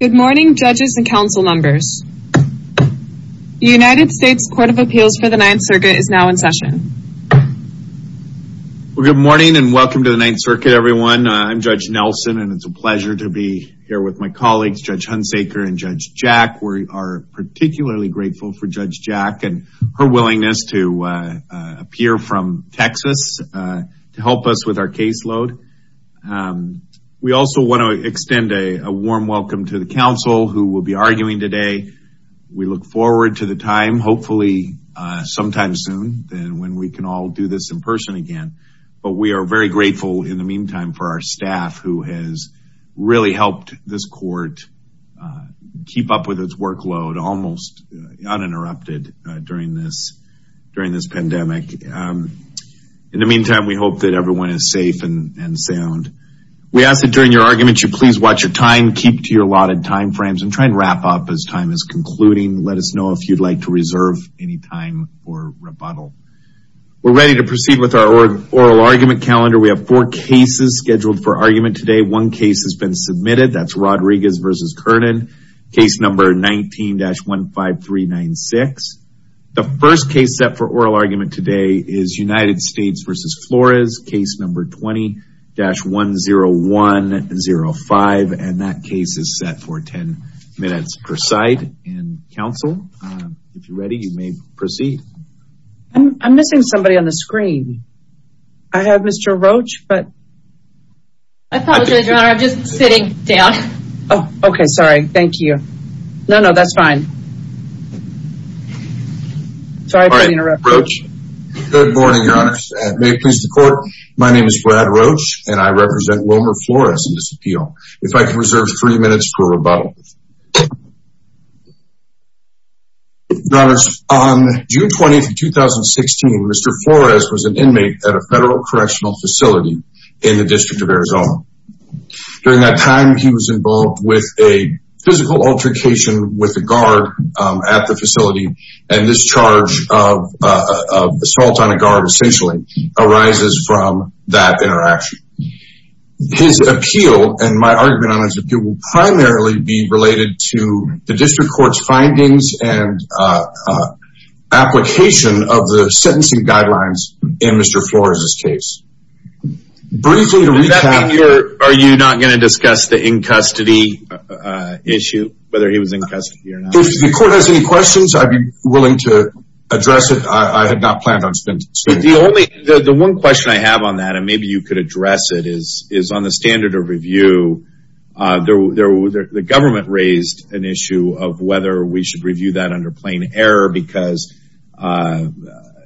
Good morning judges and council members. The United States Court of Appeals for the Ninth Circuit is now in session. Good morning and welcome to the Ninth Circuit everyone. I'm Judge Nelson and it's a pleasure to be here with my colleagues Judge Hunsaker and Judge Jack. We are particularly grateful for Judge Jack and her willingness to appear from Texas to help us with our caseload. We also want to extend a warm welcome to the council who will be arguing today. We look forward to the time, hopefully sometime soon and when we can all do this in person again. But we are very grateful in the meantime for our staff who has really helped this court keep up with its workload almost uninterrupted during this during this pandemic. In the meantime we hope that everyone is safe and sound. We ask that during your argument you please watch your time, keep to your allotted time frames and try and wrap up as time is concluding. Let us know if you'd like to reserve any time for rebuttal. We're ready to proceed with our oral argument calendar. We have four cases scheduled for argument today. One case has been submitted, that's Rodriguez v. Kernan, case number 19-15396. The first case set for oral argument today is United States v. Flores, case number 20-10105. And that case is set for 10 minutes per side. And council, if you're ready you may proceed. I'm missing somebody on the screen. I have Mr. Roach, but. I apologize your honor, I'm just sitting down. Oh, okay, sorry. Thank you. No, no, that's fine. Sorry My name is Brad Roach and I represent Wilmer Flores in this appeal. If I can reserve three minutes for rebuttal. On June 20th, 2016, Mr. Flores was an inmate at a federal correctional facility in the District of Arizona. During that time, he was involved with a physical altercation with a guard at the facility. And this charge of assault on a guard essentially arises from that interaction. His appeal, and my argument on his appeal, will primarily be related to the district court's findings and application of the sentencing guidelines in Mr. Flores's case. Briefly to recap. Does that mean you're, are you not going to discuss the in custody issue? Whether he was in custody or not? If the court has any questions, I'd be willing to address it. I had not planned on spending time with him. The only, the one question I have on that, and maybe you could address it, is on the standard of review. The government raised an issue of whether we should review that under plain error because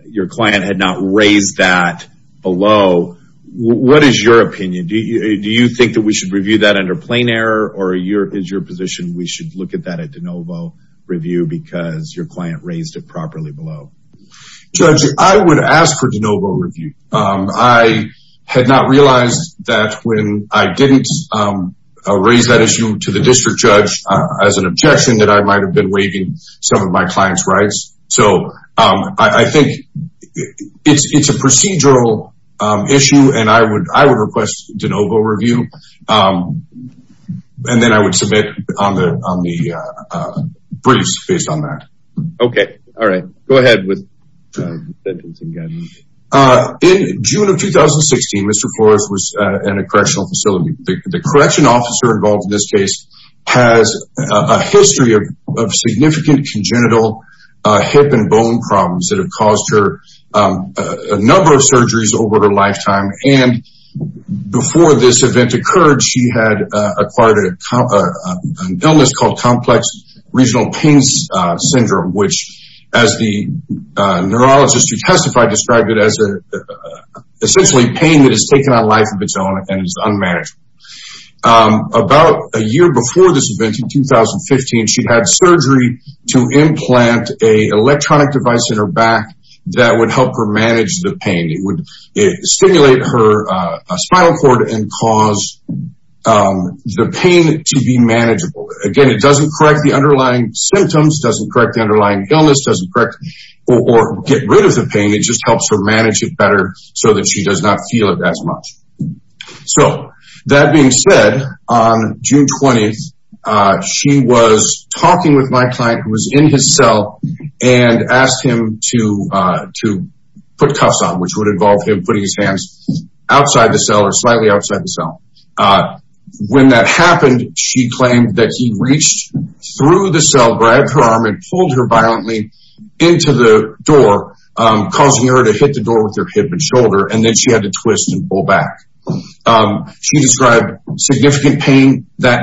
your client had not raised that below. What is your opinion? Do you think that we should review that under plain error? Or is your position we should look at that at de novo review because your client raised it properly below? Judge, I would ask for de novo review. I had not realized that when I didn't raise that issue to the district judge as an objection that I might have been waiving some of my client's rights. So I think it's a procedural issue and I would request de novo review. And then I would submit on the, on the briefs based on that. Okay. All right. Go ahead. In June of 2016, Mr. Flores was in a correctional facility. The correction officer involved in this case has a history of significant congenital hip and bone problems that have caused her a number of surgeries over her lifetime. And before this event occurred, she had acquired an illness called complex regional pains syndrome, which as the neurologist who testified described it as essentially pain that has taken on life of its own and is unmanageable. About a year before this event in 2015, she had surgery to implant a electronic device in her back that would help her manage the pain. It would stimulate her spinal cord and cause the pain to be manageable. Again, it doesn't correct the underlying symptoms, doesn't correct the underlying illness, doesn't correct or get rid of the pain. It just helps her manage it better so that she does not feel it as much. So that being said, on June 20th, she was talking with my client who was in his cell and asked him to put cuffs on, which would involve him putting his hands outside the cell or slightly outside the cell. When that happened, she claimed that he reached through the cell, grabbed her arm and pulled her violently into the door, causing her to hit the door with her hip and shoulder. And that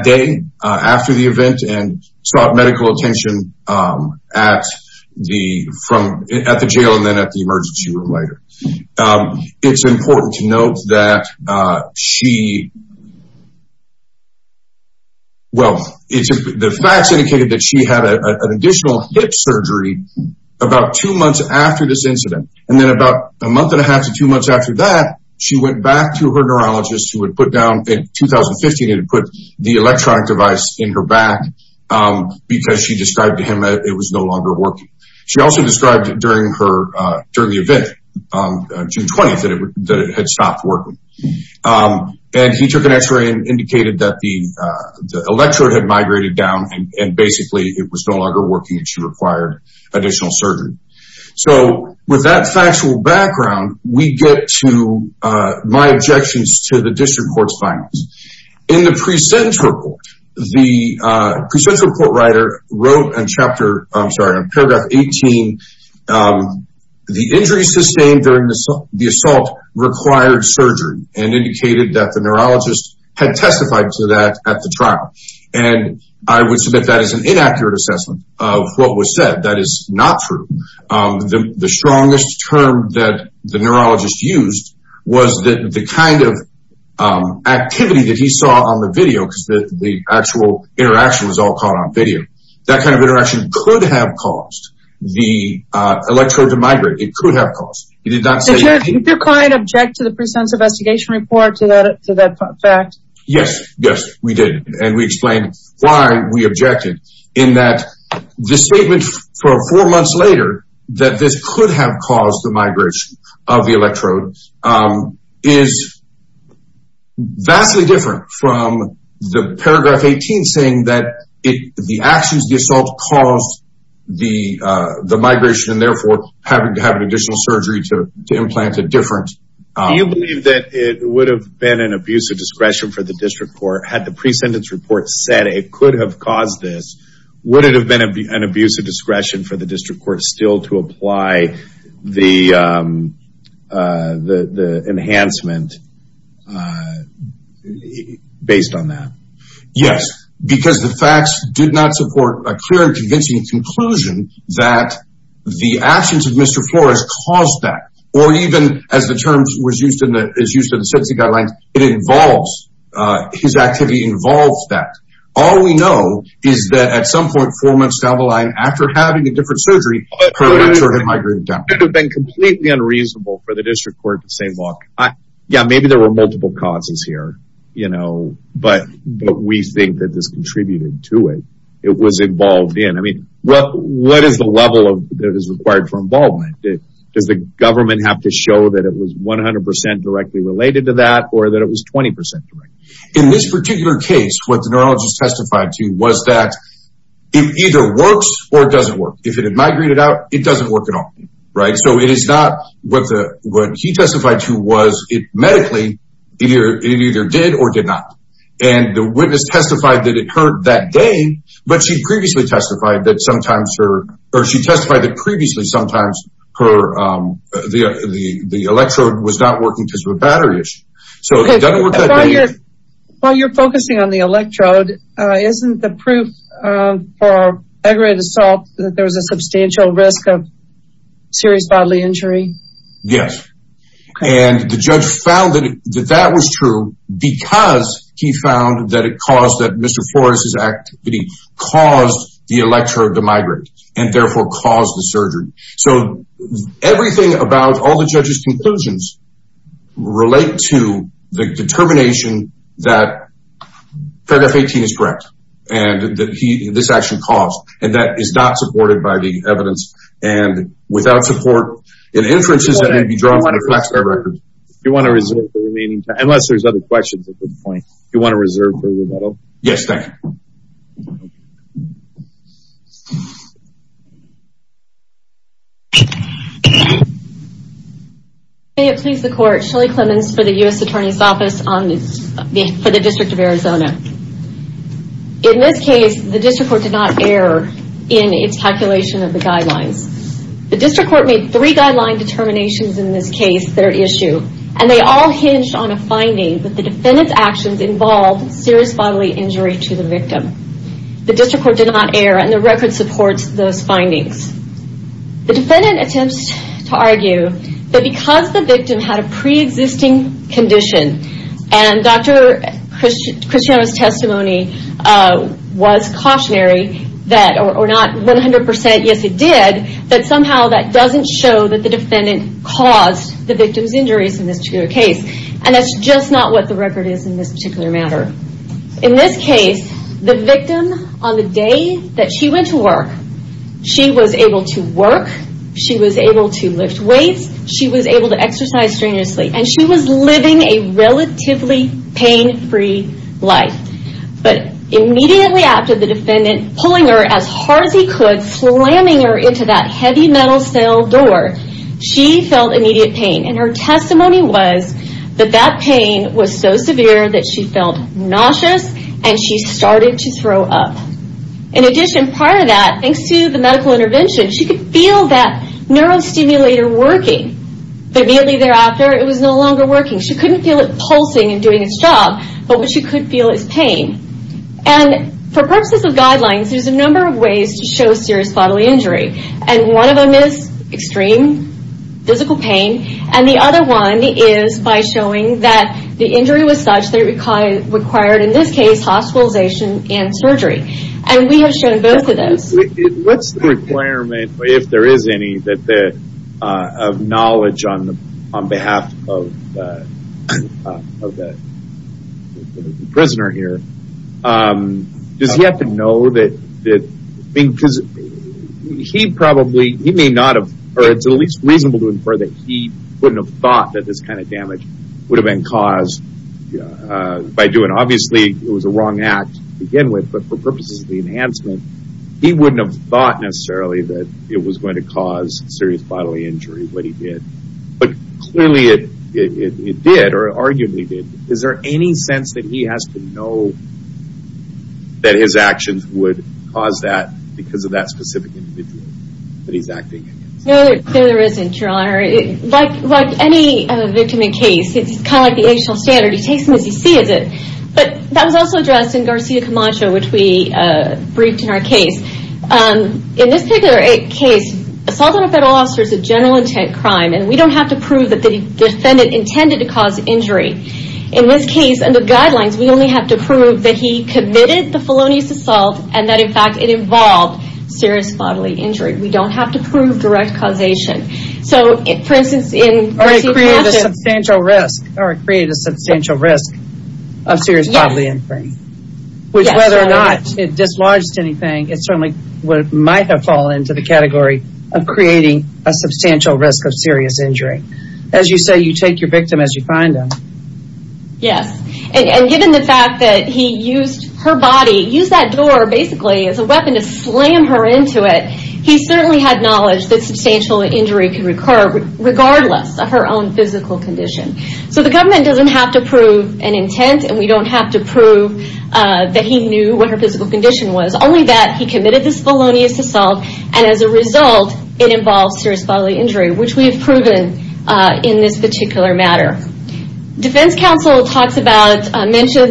day after the event and sought medical attention at the jail and then at the emergency room later. It's important to note that she, well, the facts indicated that she had an additional hip surgery about two months after this incident. And then about a month and a half to two months after that, she went back to her neurologist who would put down in 2015 and put the electronic device in her back because she described to him that it was no longer working. She also described during the event, June 20th, that it had stopped working. And he took an x-ray and indicated that the electrode had migrated down and basically it was no longer working and she required additional surgery. So with that factual background, we get to my objections to the district court's findings. In the pre-sentence report, the pre-sentence report writer wrote in chapter, I'm sorry, in paragraph 18, the injury sustained during the assault required surgery and indicated that the neurologist had testified to that at the trial. And I would submit that as an inaccurate assessment of what was said. That is not true. The strongest term that the neurologist used was that the kind of activity that he saw on the video, because the actual interaction was all caught on video. That kind of interaction could have caused the electrode to migrate. It could have caused. He did not say- Did your client object to the pre-sentence investigation report, to that fact? Yes, yes, we did. And we explained why we objected in that the statement for four months later that this could have caused the migration of the electrode is vastly different from the paragraph 18 saying that the actions of the assault caused the migration and therefore having to have an additional surgery to implant a different- Do you believe that it would have been an abuse of discretion for the district court had the pre-sentence report said it could have caused this? Would it have been an abuse of discretion for the district court still to apply the enhancement based on that? Yes, because the facts did not support a clear and convincing conclusion that the actions of Mr. Flores caused that. Or even as the term was used in the sentencing guidelines, his activity involves that. All we know is that at some point four months down the line, after having a different surgery, her electrode had migrated down. It would have been completely unreasonable for the district court to say, look, yeah, maybe there were multiple causes here, but we think that this contributed to it. It was for involvement. Does the government have to show that it was 100% directly related to that or that it was 20% direct? In this particular case, what the neurologist testified to was that it either works or it doesn't work. If it had migrated out, it doesn't work at all, right? So it is not what he testified to was medically, it either did or did not. And the witness testified that it hurt that day, but she'd previously testified that sometimes her, or she testified that previously sometimes the electrode was not working because of a battery issue. So while you're focusing on the electrode, isn't the proof for aggravated assault that there was a substantial risk of serious bodily injury? Yes. And the judge found that that was true because he found that it caused that Mr. Flores's activity caused the electrode to migrate and therefore caused the surgery. So everything about all the judge's conclusions relate to the determination that paragraph 18 is correct and that he, this action caused, and that is not supported by the evidence and without support in inferences that may be drawn from the Flaxmere record. You want to reserve the remaining time, unless there's other questions at this point, you want to reserve for rebuttal? Yes, thank you. May it please the court, Shelley Clemons for the U.S. Attorney's Office for the District of Arizona. In this case, the district court did not err in its calculation of the guidelines. The district court made three guideline determinations in this case, their issue, and they all hinged on a finding that the defendant's actions involved serious bodily injury to the victim. The district court did not err and the record supports those findings. The defendant attempts to argue that because the victim had a pre-existing condition and Dr. Christiano's testimony was cautionary that, or not 100% yes it did, that somehow doesn't show that the defendant caused the victim's injuries in this particular case. That's just not what the record is in this particular matter. In this case, the victim on the day that she went to work, she was able to work, she was able to lift weights, she was able to exercise strenuously, and she was living a relatively pain-free life, but immediately after the defendant pulling her as hard as he could, slamming her into that heavy metal cell door, she felt immediate pain. Her testimony was that that pain was so severe that she felt nauseous and she started to throw up. In addition, prior to that, thanks to the medical intervention, she could feel that neurostimulator working, but immediately thereafter it was no longer working. She couldn't feel it pulsing and doing its job, but what she could feel is pain. For purposes of guidelines, there's a number of ways to show serious bodily injury. One of them is extreme physical pain, and the other one is by showing that the injury was such that it required, in this case, hospitalization and surgery. We have shown both of those. What's the requirement, if there is any, of knowledge on behalf of the prisoner here? Does he have to know? It's at least reasonable to infer that he wouldn't have thought that this kind of damage would have been caused by doing, obviously, it was a wrong act to begin with, but for purposes of the enhancement, he wouldn't have thought necessarily that it was going to cause serious bodily injury, what he did. But clearly it did, or arguably it did. Is there any sense that he has to know that his actions would cause that because of that specific individual that he's acting against? No, there isn't, Your Honor. Like any victim in case, it's kind of like the age-old standard, he takes them as he sees it. That was also addressed in Garcia Camacho, which we briefed in our case. In this particular case, assault on a federal officer is a general intent crime, and we don't have to prove that the defendant intended to cause injury. In this case, under guidelines, we only have to prove that he committed the felonious assault and that, in fact, it involved serious bodily injury. We don't have to prove direct causation. Or it created a substantial risk of serious bodily injury, which whether or not it dislodged anything, it certainly might have fallen into the category of creating a substantial risk of serious injury. As you say, you take your victim as you find them. Yes, and given the fact that he used her body, used that door basically as a weapon to slam her into it, he certainly had knowledge that substantial injury could recur regardless of her own physical condition. So the government doesn't have to prove an intent, and we don't have to prove that he knew what her physical condition was, only that he committed this felonious assault and, as a result, it involved serious bodily injury, which we have proven in this particular matter. Defense counsel mentioned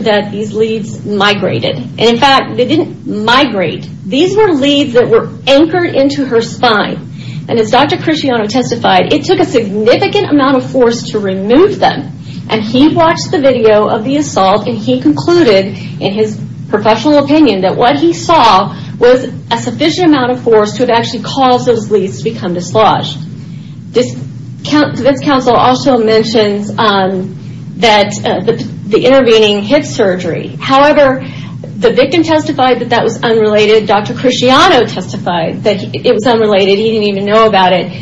that these leads migrated. In fact, they didn't migrate. These were leads that were anchored into her spine. And as Dr. Cresciano testified, it took a significant amount of force to remove them. And he watched the video of the assault, and he concluded, in his professional opinion, that what he saw was a sufficient amount of force to have actually caused those leads to become dislodged. Defense counsel also mentions that the intervening hip surgery. However, the victim testified that that was unrelated. Dr. Cresciano testified that it was unrelated. He didn't even know about it.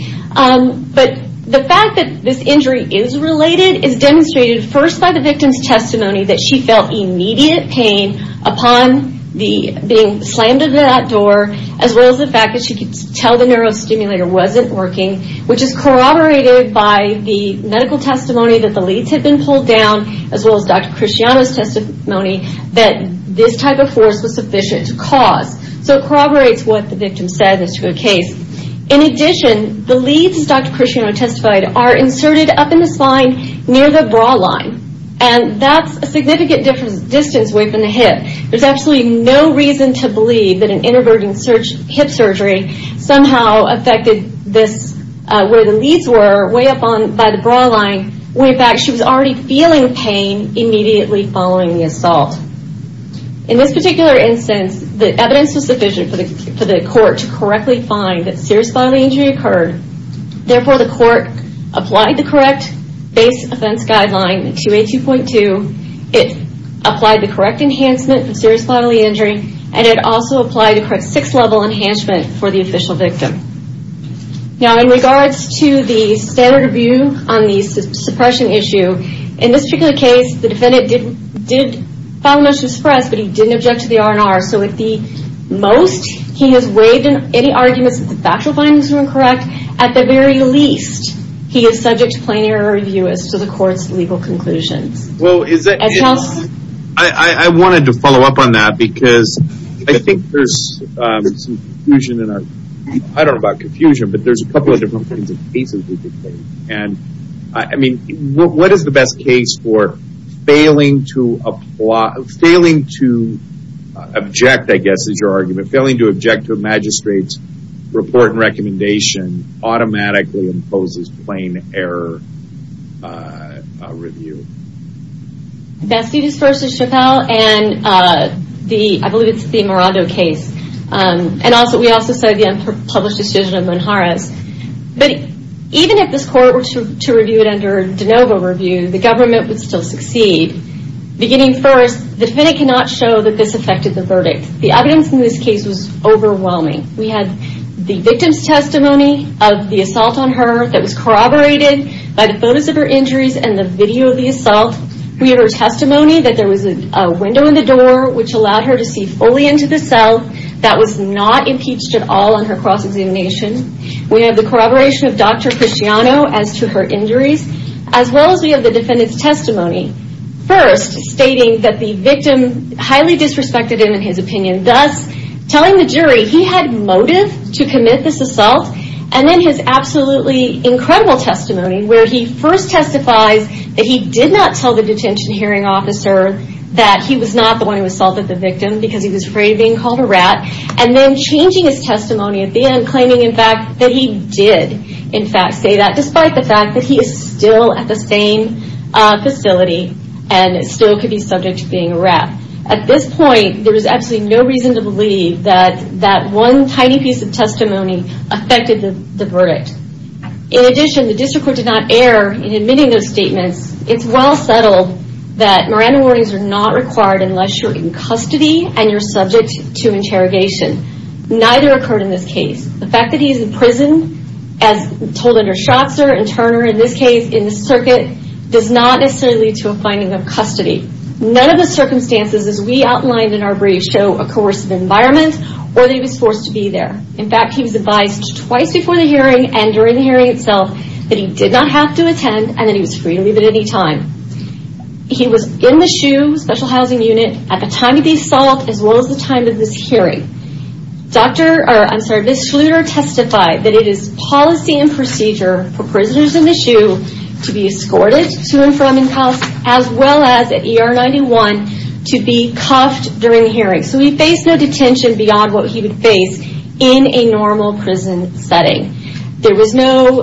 But the fact that this injury is related is demonstrated first by the victim's testimony that she felt immediate pain upon being slammed into that door, as well as the fact that she could tell the neurostimulator wasn't working, which is corroborated by the medical testimony that the leads had been pulled down, as well as Dr. Cresciano's testimony, that this type of force was sufficient to cause. So it corroborates what the victim said as to a case. In addition, the leads, as Dr. Cresciano testified, are inserted up in the spine near the bra line. And that's a significant distance away from the hip. There's absolutely no reason to believe that an intervening hip surgery somehow affected this, where the leads were, way up by the bra line. When, in fact, she was already feeling pain immediately following the assault. In this particular instance, the evidence was sufficient for the court to correctly find that serious bodily injury occurred. Therefore, the court applied the correct base offense guideline, 282.2. It applied the correct enhancement for serious bodily injury, and it also applied the correct six-level enhancement for the official victim. Now, in regards to the standard review on the suppression issue, in this particular case, the defendant did file a motion to suppress, but he didn't object to the R&R. So, at the most, he has waived any arguments that the factual findings were incorrect. At the very least, he is subject to plain error review as to the court's legal conclusions. Well, I wanted to follow up on that, because I think there's some confusion in our... I don't know about confusion, but there's a couple of different kinds of cases we could take. And, I mean, what is the best case for failing to apply... failing to object, I guess, is your argument. Failing to object to a magistrate's report and recommendation automatically imposes plain error review. Bastidas v. Chappelle, and I believe it's the Morado case. And we also cited the unpublished decision of Monjarez. But, even if this court were to review it under de novo review, the government would still succeed. Beginning first, the defendant cannot show that this affected the verdict. The evidence in this case was overwhelming. We have the victim's testimony of the assault on her that was corroborated by the photos of her injuries and the video of the assault. We have her testimony that there was a window in the door which allowed her to see fully into the cell that was not impeached at all on her cross-examination. We have the corroboration of Dr. Cristiano as to her injuries, as well as we have the defendant's testimony. First, stating that the victim highly disrespected him in his opinion. Thus, telling the jury he had motive to commit this assault. And then his absolutely incredible testimony where he first testifies that he did not tell the detention hearing officer that he was not the one who assaulted the victim because he was afraid of being called a rat. And then changing his testimony at the end claiming, in fact, that he did, in fact, say that despite the fact that he is still at the same facility and still could be subject to being a rat. At this point, there is absolutely no reason to believe that that one tiny piece of testimony affected the verdict. In addition, the district court did not err in admitting those statements. It's well settled that Miranda warnings are not required unless you're in custody and you're subject to interrogation. Neither occurred in this case. The fact that he is in prison, as told under Schatzer and Turner in this case, in the circuit, does not necessarily lead to a finding of custody. None of the circumstances, as we outlined in our brief, show a coercive environment or that he was forced to be there. In fact, he was advised twice before the hearing and during the hearing itself that he did not have to attend and that he was free to leave at any time. He was in the SHU Special Housing Unit at the time of the assault as well as the time of this hearing. Doctor, I'm sorry, Ms. Schluter testified that it is policy and procedure for prisoners in the SHU to be escorted to and from in custody as well as at ER 91 to be cuffed during the hearing. So he faced no detention beyond what he would face in a normal prison setting. There was no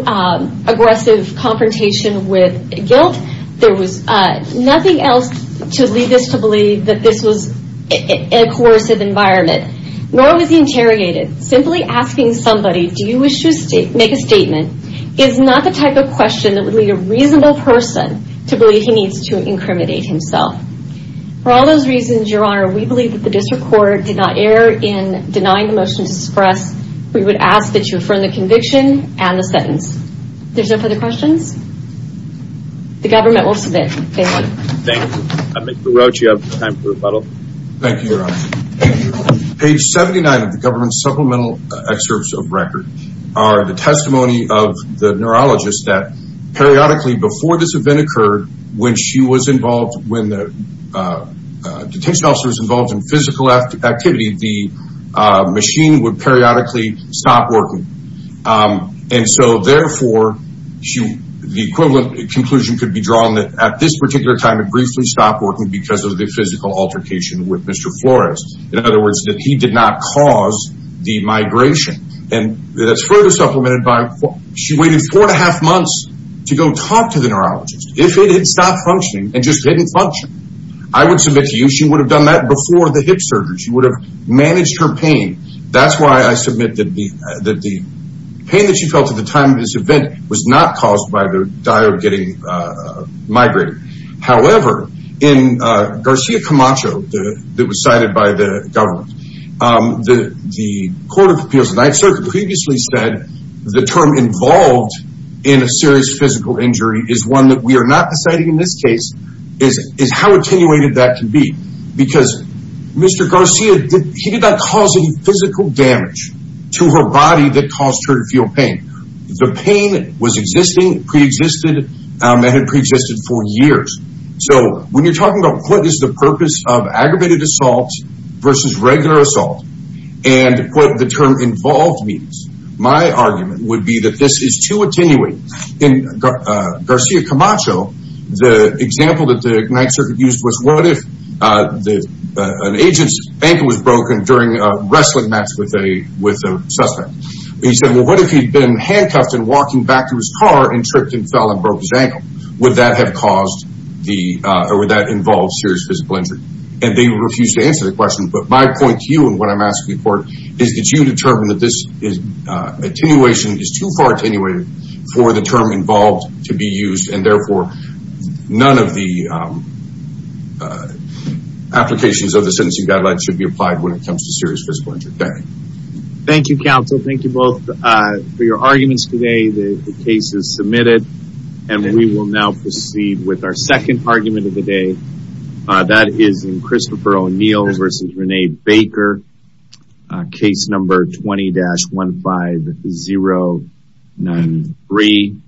aggressive confrontation with guilt. There was nothing else to lead us to believe that this was a coercive environment. Nor was he interrogated. Simply asking somebody, do you wish to make a statement, is not the type of question that would lead a reasonable person to believe he needs to incriminate himself. For all those reasons, Your Honor, we believe that the District Court did not err in denying the motion to disperse. We would ask that you affirm the conviction and the sentence. There's no further questions? The government will submit. Thank you. Thank you. Mr. Roach, you have time for a rebuttal. Thank you, Your Honor. Thank you. Page 79 of the government's supplemental excerpts of record are the testimony of the neurologist that periodically before this event occurred, when she was involved, when the detention officer was involved in physical activity, the machine would periodically stop working. And so therefore, the equivalent conclusion could be drawn that at this particular time it briefly stopped working because of the physical altercation with Mr. Flores. In other words, that he did not cause the migration. And that's further supplemented by she waited four and a half months to go talk to the neurologist. If it had stopped functioning and just didn't function, I would submit to you she would have done that before the hip surgery. She would have managed her pain. That's why I submit that the pain that she felt at the time of this event was not caused by the dire of getting migrated. However, in Garcia Camacho, that was cited by the government, the Court of Appeals of the Ninth Circuit Mr. Garcia previously said the term involved in a serious physical injury is one that we are not deciding in this case is how attenuated that can be. Because Mr. Garcia, he did not cause any physical damage to her body that caused her to feel pain. The pain was existing, pre-existed, and had pre-existed for years. So when you're talking about what is the purpose of aggravated assault versus regular assault and what the term involved means, my argument would be that this is too attenuated. In Garcia Camacho, the example that the Ninth Circuit used was what if an agent's ankle was broken during a wrestling match with a suspect. He said, well, what if he'd been handcuffed and walking back to his car and tripped and fell and broke his ankle? Would that have caused the or would that involve serious physical injury? And they refused to answer the question. But my point to you in what I'm asking for is that you determine that this attenuation is too far attenuated for the term involved to be used and therefore none of the applications of the sentencing guidelines should be applied when it comes to serious physical injury. Thank you, counsel. Thank you both for your arguments today. The case is submitted and we will now proceed with our second argument of the day. That is Christopher O'Neill versus Rene Baker case number 20-15093.